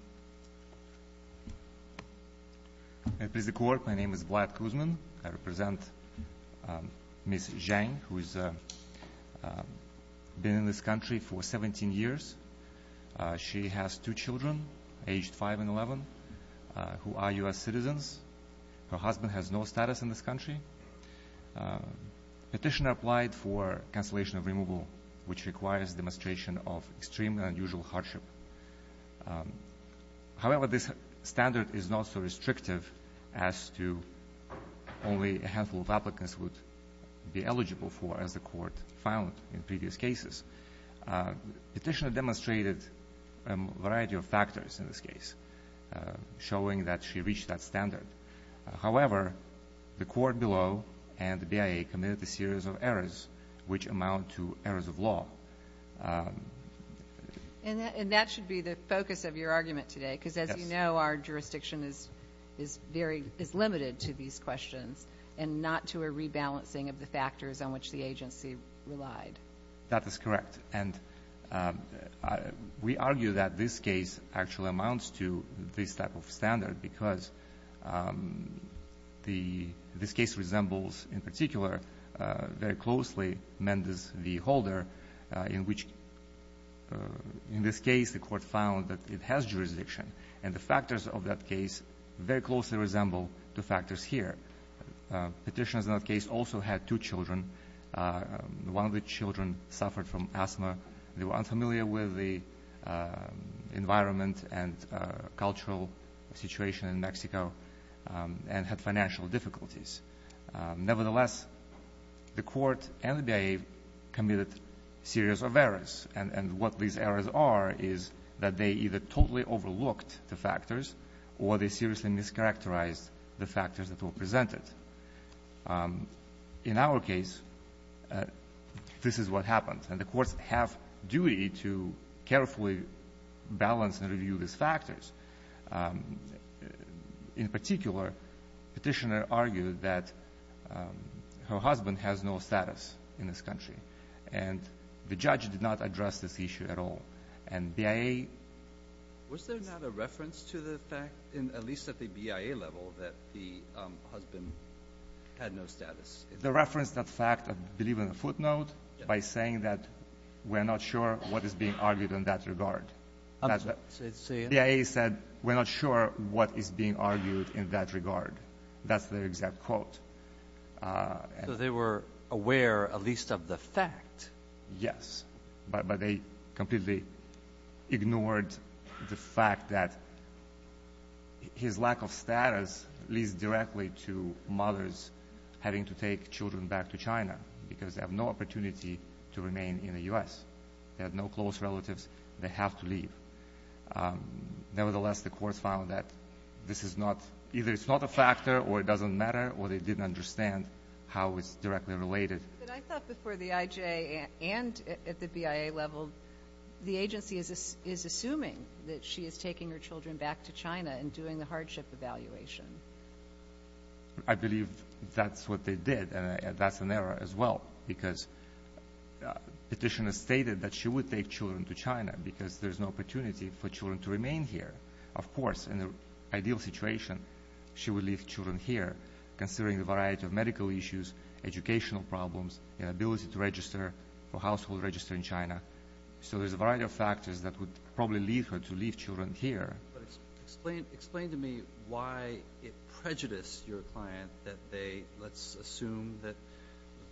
I represent Ms. Zhang, who has been in this country for 17 years. She has two children, aged 5 and 11, who are U.S. citizens. Her husband has no status in this country. Petitioner applied for cancellation of removal, which requires demonstration of extreme and unusual However, this standard is not so restrictive as to only a handful of applicants would be eligible for, as the Court found in previous cases. Petitioner demonstrated a variety of factors in this case, showing that she reached that standard. However, the Court below and the BIA committed a series of errors, which amount to errors of law. And that should be the focus of your argument today, because as you know, our jurisdiction is limited to these questions and not to a rebalancing of the factors on which the agency relied. That is correct. And we argue that this case actually amounts to this type of standard, because this case resembles in particular very closely Mendes v. Holder, in which in this case the Court found that it has jurisdiction. And the factors of that case very closely resemble the factors here. Petitioners in that case also had two children. One of the children suffered from asthma. They were unfamiliar with the environment and cultural situation in Mexico and had financial difficulties. Nevertheless, the Court and the BIA committed a series of errors. And what these errors are is that they either totally overlooked the factors or they seriously mischaracterized the factors that were presented. In our case, this is what happened. And the Courts have duty to carefully balance and review these factors. In particular, Petitioner argued that her husband has no status in this country. And the judge did not address this issue at all. And BIA — Was there not a reference to the fact, at least at the BIA level, that the husband had no status? The reference to the fact, I believe, in the footnote by saying that we're not sure what is being argued in that regard. The BIA said, we're not sure what is being argued in that regard. That's their exact quote. So they were aware, at least, of the fact. Yes. But they completely ignored the fact that his lack of status leads directly to mothers having to take children back to China because they have no opportunity to remain in the U.S. They have no close relatives. They have to leave. Nevertheless, the Courts found that this is not — either it's not a factor or it doesn't matter, or they didn't understand how it's directly related. But I thought before the IJA and at the BIA level, the agency is assuming that she is taking her children back to China and doing the hardship evaluation. I believe that's what they did, and that's an error as well. Because petitioners stated that she would take children to China because there's no opportunity for children to remain here. Of course, in the ideal situation, she would leave children here, considering a variety of medical issues, educational problems, inability to register for household register in China. So there's a variety of factors that would probably lead her to leave children here. But explain to me why it prejudiced your client that they — let's assume that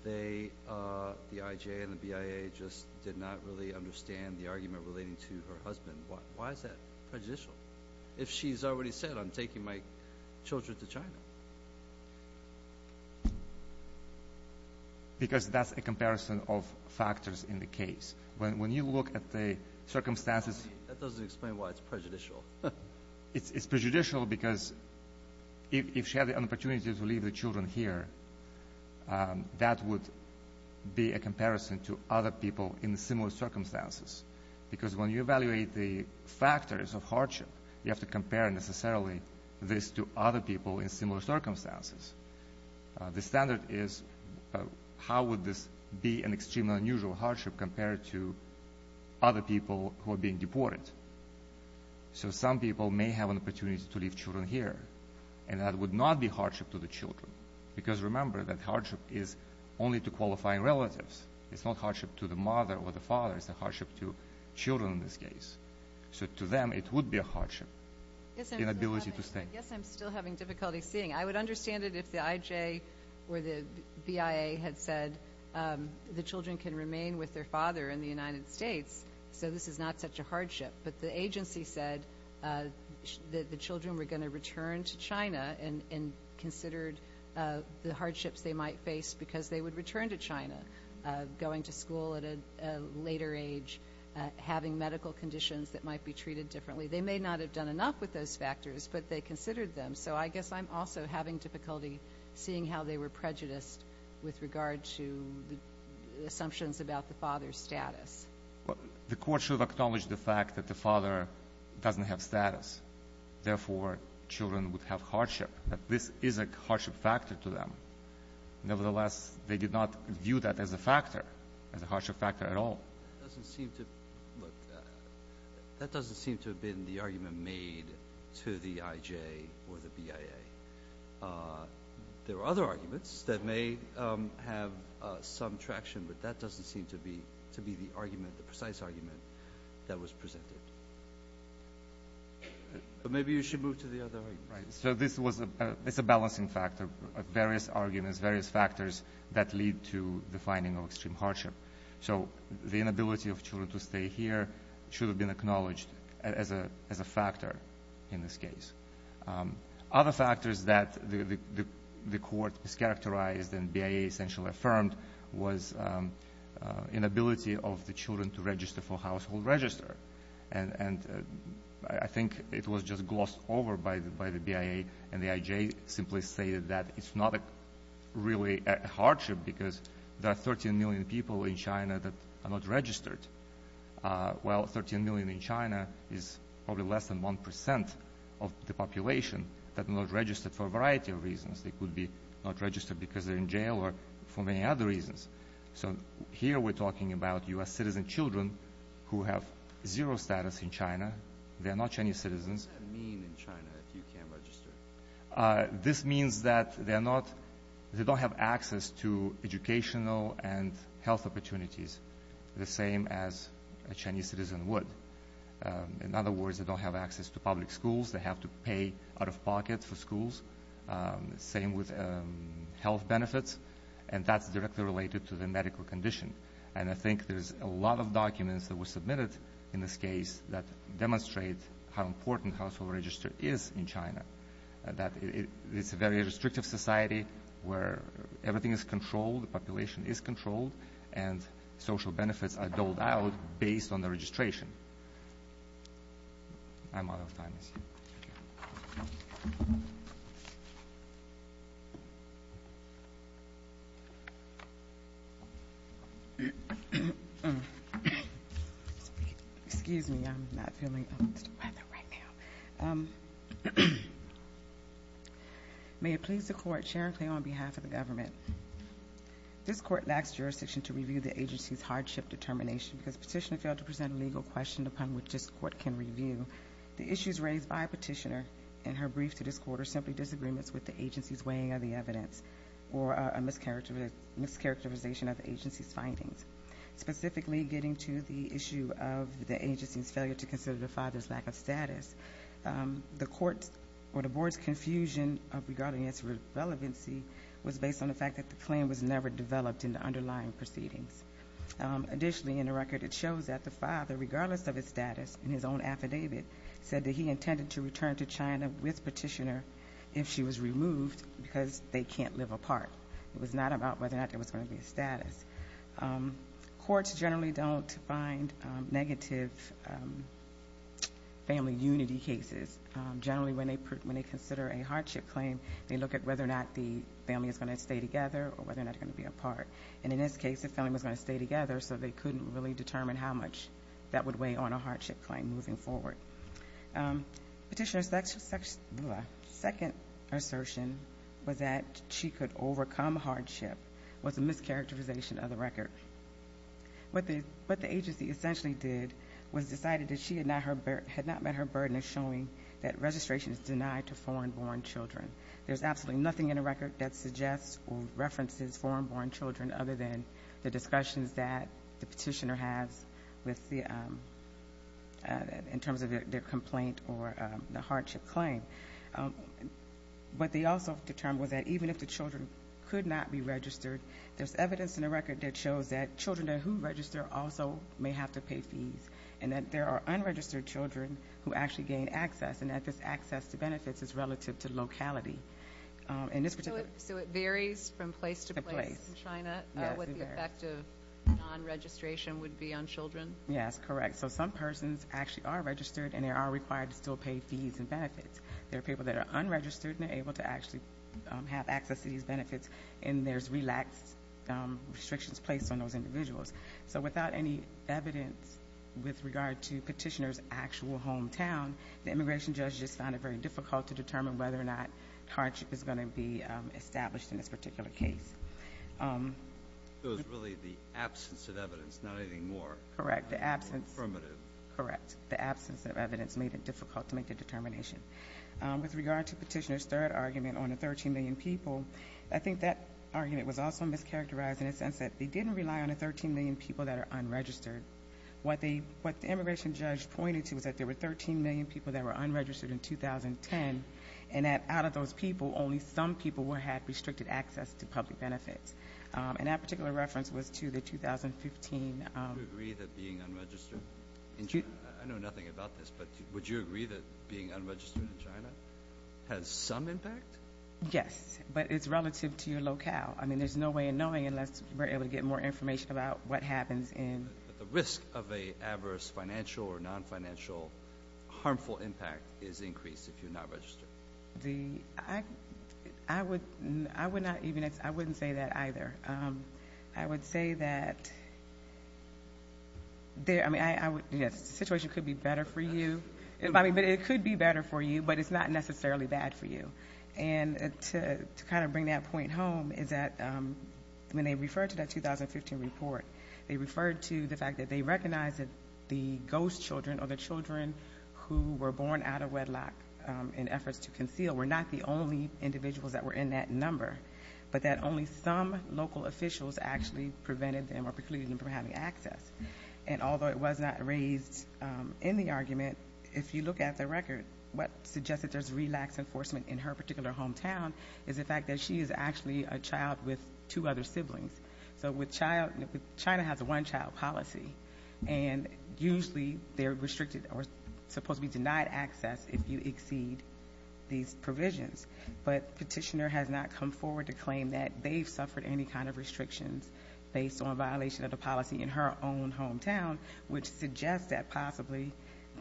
they, the IJA and the BIA, just did not really understand the argument relating to her husband. Why is that prejudicial? If she's already said, I'm taking my children to China? Because that's a comparison of factors in the case. When you look at the circumstances — That doesn't explain why it's prejudicial. It's prejudicial because if she had the opportunity to leave the children here, that would be a comparison to other people in similar circumstances. Because when you evaluate the factors of hardship, you have to compare necessarily this to other people in similar circumstances. The standard is how would this be an extremely unusual hardship compared to other people who are being deported. So some people may have an opportunity to leave children here, and that would not be hardship to the children. Because remember that hardship is only to qualifying relatives. It's not hardship to the mother or the father. It's a hardship to children in this case. So to them, it would be a hardship, inability to stay. Yes, I'm still having difficulty seeing. I would understand it if the IJA or the BIA had said the children can remain with their father in the United States, so this is not such a hardship. But the agency said that the children were going to return to China and considered the hardships they might face because they would return to China, going to school at a later age, having medical conditions that might be treated differently. They may not have done enough with those factors, but they considered them. So I guess I'm also having difficulty seeing how they were prejudiced with regard to the assumptions about the father's status. The court should acknowledge the fact that the father doesn't have status. Therefore, children would have hardship. This is a hardship factor to them. Nevertheless, they did not view that as a factor, as a hardship factor at all. That doesn't seem to have been the argument made to the IJA or the BIA. There are other arguments that may have some traction, but that doesn't seem to be the argument, the precise argument that was presented. But maybe you should move to the other arguments. Right, so this is a balancing factor of various arguments, various factors that lead to the finding of extreme hardship. So the inability of children to stay here should have been acknowledged as a factor in this case. Other factors that the court mischaracterized and BIA essentially affirmed was inability of the children to register for household register. And I think it was just glossed over by the BIA, and the IJA simply stated that it's not really a hardship because there are 13 million people in China that are not registered. While 13 million in China is probably less than 1% of the population that are not registered for a variety of reasons. They could be not registered because they're in jail or for many other reasons. So here we're talking about U.S. citizen children who have zero status in China. They are not Chinese citizens. What does that mean in China if you can't register? This means that they don't have access to educational and health opportunities, the same as a Chinese citizen would. In other words, they don't have access to public schools. They have to pay out of pocket for schools. Same with health benefits, and that's directly related to the medical condition. And I think there's a lot of documents that were submitted in this case that demonstrate how important household register is in China, that it's a very restrictive society where everything is controlled, the population is controlled, and social benefits are doled out based on the registration. I'm out of time. Thank you. Excuse me. I'm not feeling the weather right now. May it please the Court, Sharon Clay on behalf of the government, this Court lacks jurisdiction to review the agency's hardship determination because Petitioner failed to present a legal question upon which this Court can review. The issues raised by Petitioner in her brief to this Court are simply disagreements with the agency's weighing of the evidence or a mischaracterization of the agency's findings, specifically getting to the issue of the agency's failure to consider the father's lack of status. The Court's or the Board's confusion regarding its relevancy was based on the fact that the claim was never developed in the underlying proceedings. Additionally, in the record it shows that the father, regardless of his status in his own affidavit, said that he intended to return to China with Petitioner if she was removed because they can't live apart. It was not about whether or not there was going to be a status. Courts generally don't find negative family unity cases. Generally, when they consider a hardship claim, they look at whether or not the family is going to stay together or whether or not they're going to be apart. And in this case, the family was going to stay together, so they couldn't really determine how much that would weigh on a hardship claim moving forward. Petitioner's second assertion was that she could overcome hardship was a mischaracterization of the record. What the agency essentially did was decided that she had not met her burden of showing that registration is denied to foreign-born children. There's absolutely nothing in the record that suggests or references foreign-born children other than the discussions that the Petitioner has in terms of their complaint or the hardship claim. What they also determined was that even if the children could not be registered, there's evidence in the record that shows that children who register also may have to pay fees and that there are unregistered children who actually gain access and that this access to benefits is relative to locality. So it varies from place to place in China, what the effect of non-registration would be on children? Yes, correct. So some persons actually are registered and they are required to still pay fees and benefits. There are people that are unregistered and are able to actually have access to these benefits, and there's relaxed restrictions placed on those individuals. So without any evidence with regard to Petitioner's actual hometown, the immigration judge just found it very difficult to determine whether or not hardship is going to be established in this particular case. So it was really the absence of evidence, not anything more. Correct, the absence. Affirmative. Correct, the absence of evidence made it difficult to make a determination. With regard to Petitioner's third argument on the 13 million people, I think that argument was also mischaracterized in the sense that they didn't rely on the 13 million people that are unregistered. What the immigration judge pointed to was that there were 13 million people that were unregistered in 2010 and that out of those people, only some people had restricted access to public benefits. And that particular reference was to the 2015. Would you agree that being unregistered in China? I know nothing about this, but would you agree that being unregistered in China has some impact? Yes, but it's relative to your locale. I mean, there's no way of knowing unless we're able to get more information about what happens in. The risk of an adverse financial or non-financial harmful impact is increased if you're not registered. I would not even say that either. I would say that the situation could be better for you, but it's not necessarily bad for you. And to kind of bring that point home is that when they referred to that 2015 report, they referred to the fact that they recognized that the ghost children or the children who were born out of wedlock in efforts to conceal were not the only individuals that were in that number, but that only some local officials actually prevented them or precluded them from having access. And although it was not raised in the argument, if you look at the record, what suggests that there's relaxed enforcement in her particular hometown is the fact that she is actually a child with two other siblings. So with child ñ China has a one-child policy, and usually they're restricted or supposed to be denied access if you exceed these provisions. But petitioner has not come forward to claim that they've suffered any kind of restrictions based on violation of the policy in her own hometown, which suggests that possibly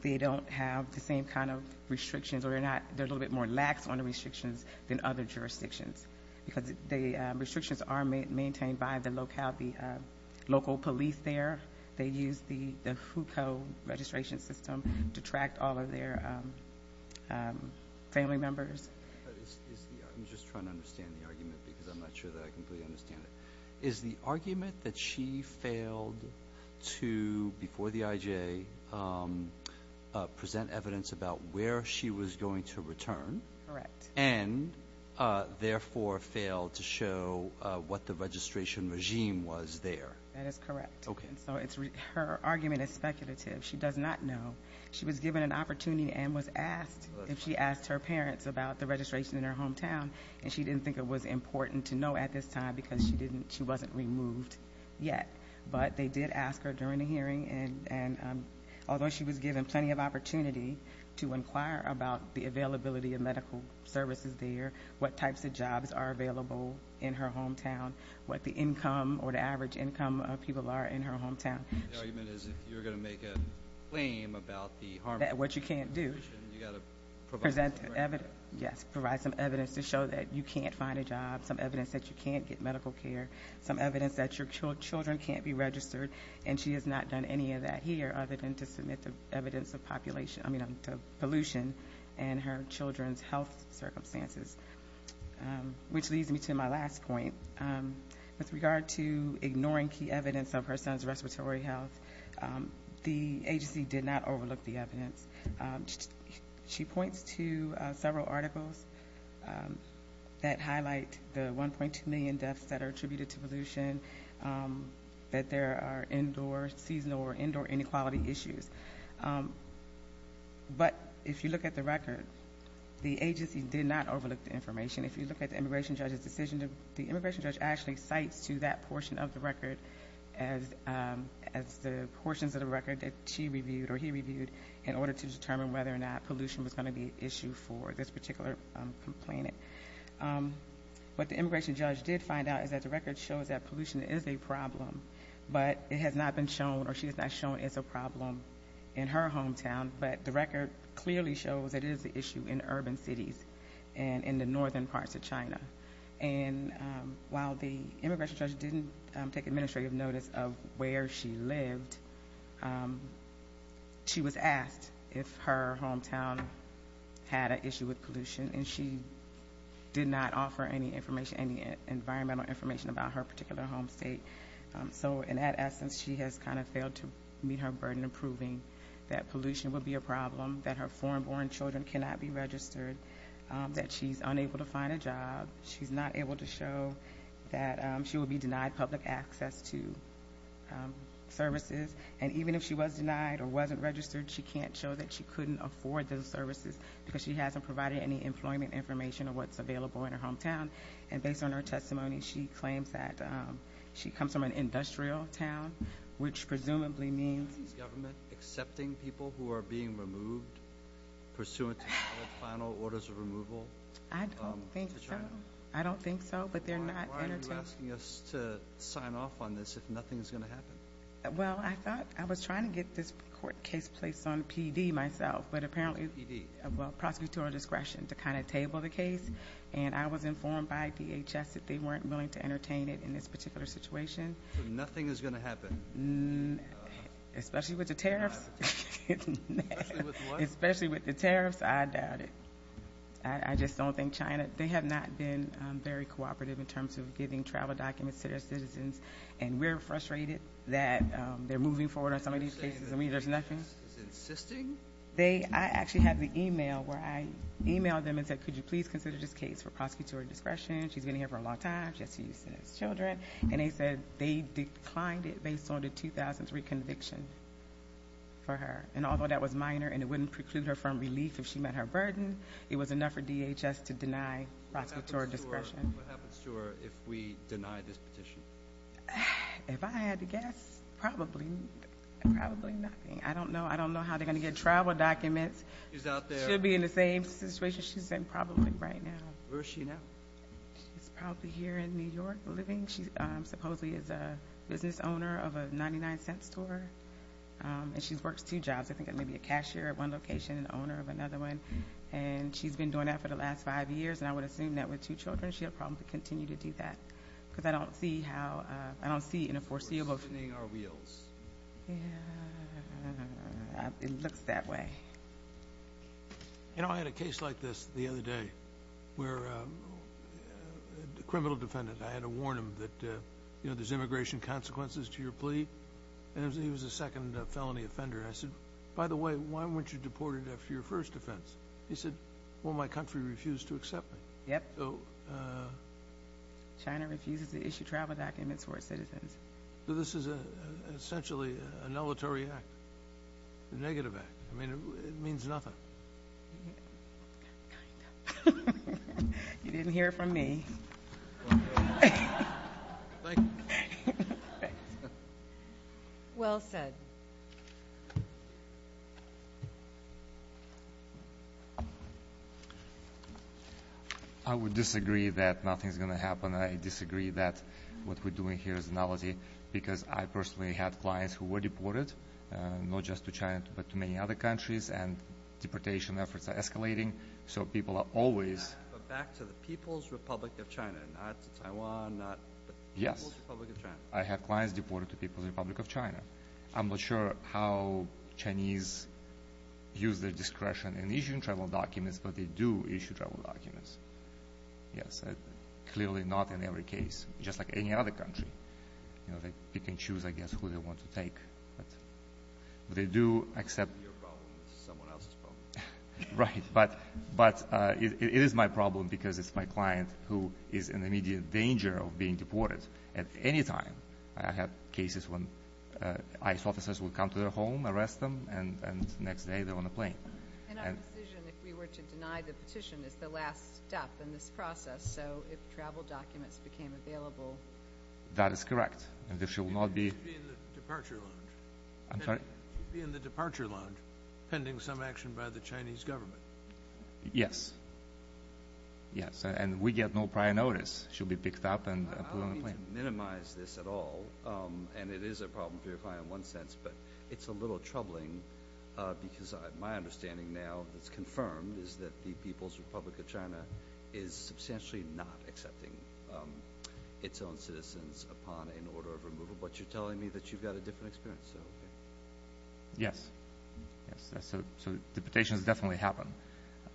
they don't have the same kind of restrictions or they're a little bit more lax on the restrictions than other jurisdictions because the restrictions are maintained by the local police there. They use the FUCO registration system to track all of their family members. I'm just trying to understand the argument because I'm not sure that I completely understand it. Is the argument that she failed to, before the IJ, present evidence about where she was going to return? Correct. And therefore failed to show what the registration regime was there? That is correct. Okay. So her argument is speculative. She does not know. She was given an opportunity and was asked if she asked her parents about the registration in her hometown, and she didn't think it was important to know at this time because she wasn't removed yet. But they did ask her during the hearing, and although she was given plenty of opportunity to inquire about the availability of medical services there, what types of jobs are available in her hometown, what the income or the average income of people are in her hometown. The argument is if you're going to make a claim about the harm that you can't do, you've got to provide some evidence. Yes, provide some evidence to show that you can't find a job, some evidence that you can't get medical care, some evidence that your children can't be registered, and she has not done any of that here other than to submit the evidence of pollution and her children's health circumstances, which leads me to my last point. With regard to ignoring key evidence of her son's respiratory health, the agency did not overlook the evidence. She points to several articles that highlight the 1.2 million deaths that are attributed to pollution, that there are indoor seasonal or indoor inequality issues. But if you look at the record, the agency did not overlook the information. If you look at the immigration judge's decision, the immigration judge actually cites to that portion of the record as the portions of the record that she reviewed or he reviewed in order to determine whether or not pollution was going to be an issue for this particular complainant. What the immigration judge did find out is that the record shows that pollution is a problem, but it has not been shown or she has not shown it's a problem in her hometown. But the record clearly shows it is an issue in urban cities and in the northern parts of China. And while the immigration judge didn't take administrative notice of where she lived, she was asked if her hometown had an issue with pollution, and she did not offer any information, any environmental information about her particular home state. So in that essence, she has kind of failed to meet her burden of proving that pollution would be a problem, that her foreign-born children cannot be registered, that she's unable to find a job, she's not able to show that she will be denied public access to services. And even if she was denied or wasn't registered, she can't show that she couldn't afford those services because she hasn't provided any employment information of what's available in her hometown. And based on her testimony, she claims that she comes from an industrial town, which presumably means the government. Are you accepting people who are being removed pursuant to final orders of removal? I don't think so. To China? I don't think so, but they're not entertained. Why are you asking us to sign off on this if nothing is going to happen? Well, I thought I was trying to get this court case placed on PD myself, but apparently, PD? Well, prosecutorial discretion to kind of table the case, and I was informed by DHS that they weren't willing to entertain it in this particular situation. So nothing is going to happen? Especially with the tariffs? Especially with what? Especially with the tariffs, I doubt it. I just don't think China. They have not been very cooperative in terms of giving travel documents to their citizens, and we're frustrated that they're moving forward on some of these cases. Are you saying that DHS is insisting? I actually have the e-mail where I e-mailed them and said, could you please consider this case for prosecutorial discretion? She's been here for a long time. And they said they declined it based on the 2003 conviction for her. And although that was minor and it wouldn't preclude her from relief if she met her burden, it was enough for DHS to deny prosecutorial discretion. What happens to her if we deny this petition? If I had to guess, probably nothing. I don't know. I don't know how they're going to get travel documents. She's out there. She should be in the same situation she's in probably right now. Where is she now? She's probably here in New York living. She supposedly is a business owner of a $0.99 store, and she works two jobs. I think maybe a cashier at one location and owner of another one. And she's been doing that for the last five years, and I would assume that with two children she'll probably continue to do that. Because I don't see how, I don't see in a foreseeable future. We're spinning our wheels. It looks that way. I had a case like this the other day where a criminal defendant, I had to warn him that there's immigration consequences to your plea, and he was the second felony offender. I said, by the way, why weren't you deported after your first offense? He said, well, my country refused to accept me. Yep. China refuses to issue travel documents for its citizens. This is essentially a nullatory act, a negative act. I mean, it means nothing. You didn't hear it from me. Well said. I disagree that what we're doing here is nullatory because I personally had clients who were deported, not just to China, but to many other countries, and deportation efforts are escalating. So people are always – But back to the People's Republic of China, not to Taiwan, not – Yes. People's Republic of China. I have clients deported to People's Republic of China. I'm not sure how Chinese use their discretion in issuing travel documents, but they do issue travel documents. Yes, clearly not in every case, just like any other country. They pick and choose, I guess, who they want to take. But they do accept – Your problem is someone else's problem. Right, but it is my problem because it's my client who is in immediate danger of being deported at any time. I have cases when ICE officers will come to their home, arrest them, and the next day they're on a plane. And our decision, if we were to deny the petition, is the last step in this process. So if travel documents became available – That is correct, and there should not be – She should be in the departure lounge. I'm sorry? She should be in the departure lounge pending some action by the Chinese government. Yes. Yes, and we get no prior notice. She'll be picked up and put on a plane. I don't mean to minimize this at all, and it is a problem for your client in one sense, but it's a little troubling because my understanding now that's confirmed is that the People's Republic of China is substantially not accepting its own citizens upon an order of removal. But you're telling me that you've got a different experience. Yes. So deportations definitely happen.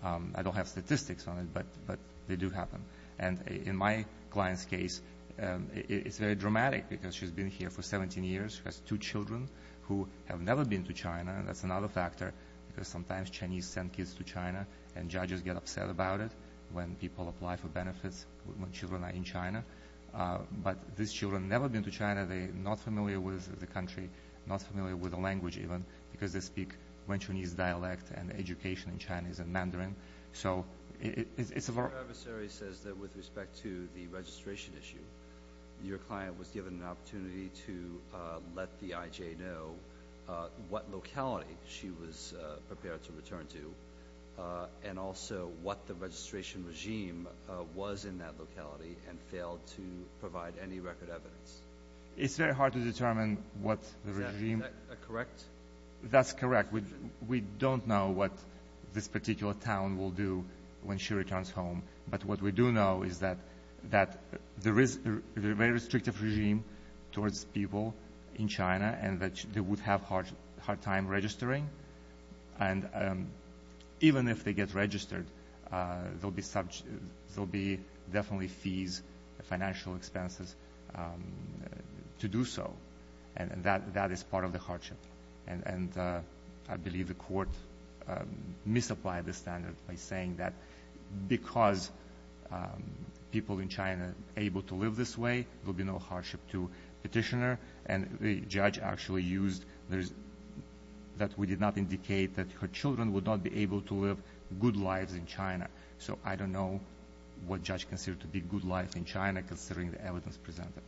I don't have statistics on it, but they do happen. And in my client's case, it's very dramatic because she's been here for 17 years. She has two children who have never been to China, and that's another factor because sometimes Chinese send kids to China and judges get upset about it when people apply for benefits when children are in China. But these children have never been to China. They are not familiar with the country, not familiar with the language even, because they speak Wenchuanese dialect and education in Chinese and Mandarin. So it's a very – Your adversary says that with respect to the registration issue, your client was given an opportunity to let the IJ know what locality she was prepared to return to and also what the registration regime was in that locality and failed to provide any record evidence. It's very hard to determine what regime. Is that correct? That's correct. We don't know what this particular town will do when she returns home. But what we do know is that there is a very restrictive regime towards people in China and that they would have a hard time registering. And even if they get registered, there will be definitely fees, financial expenses to do so. And I believe the court misapplied the standard by saying that because people in China are able to live this way, there will be no hardship to petitioner. And the judge actually used that we did not indicate that her children would not be able to live good lives in China. So I don't know what judge considered to be good life in China considering the evidence presented.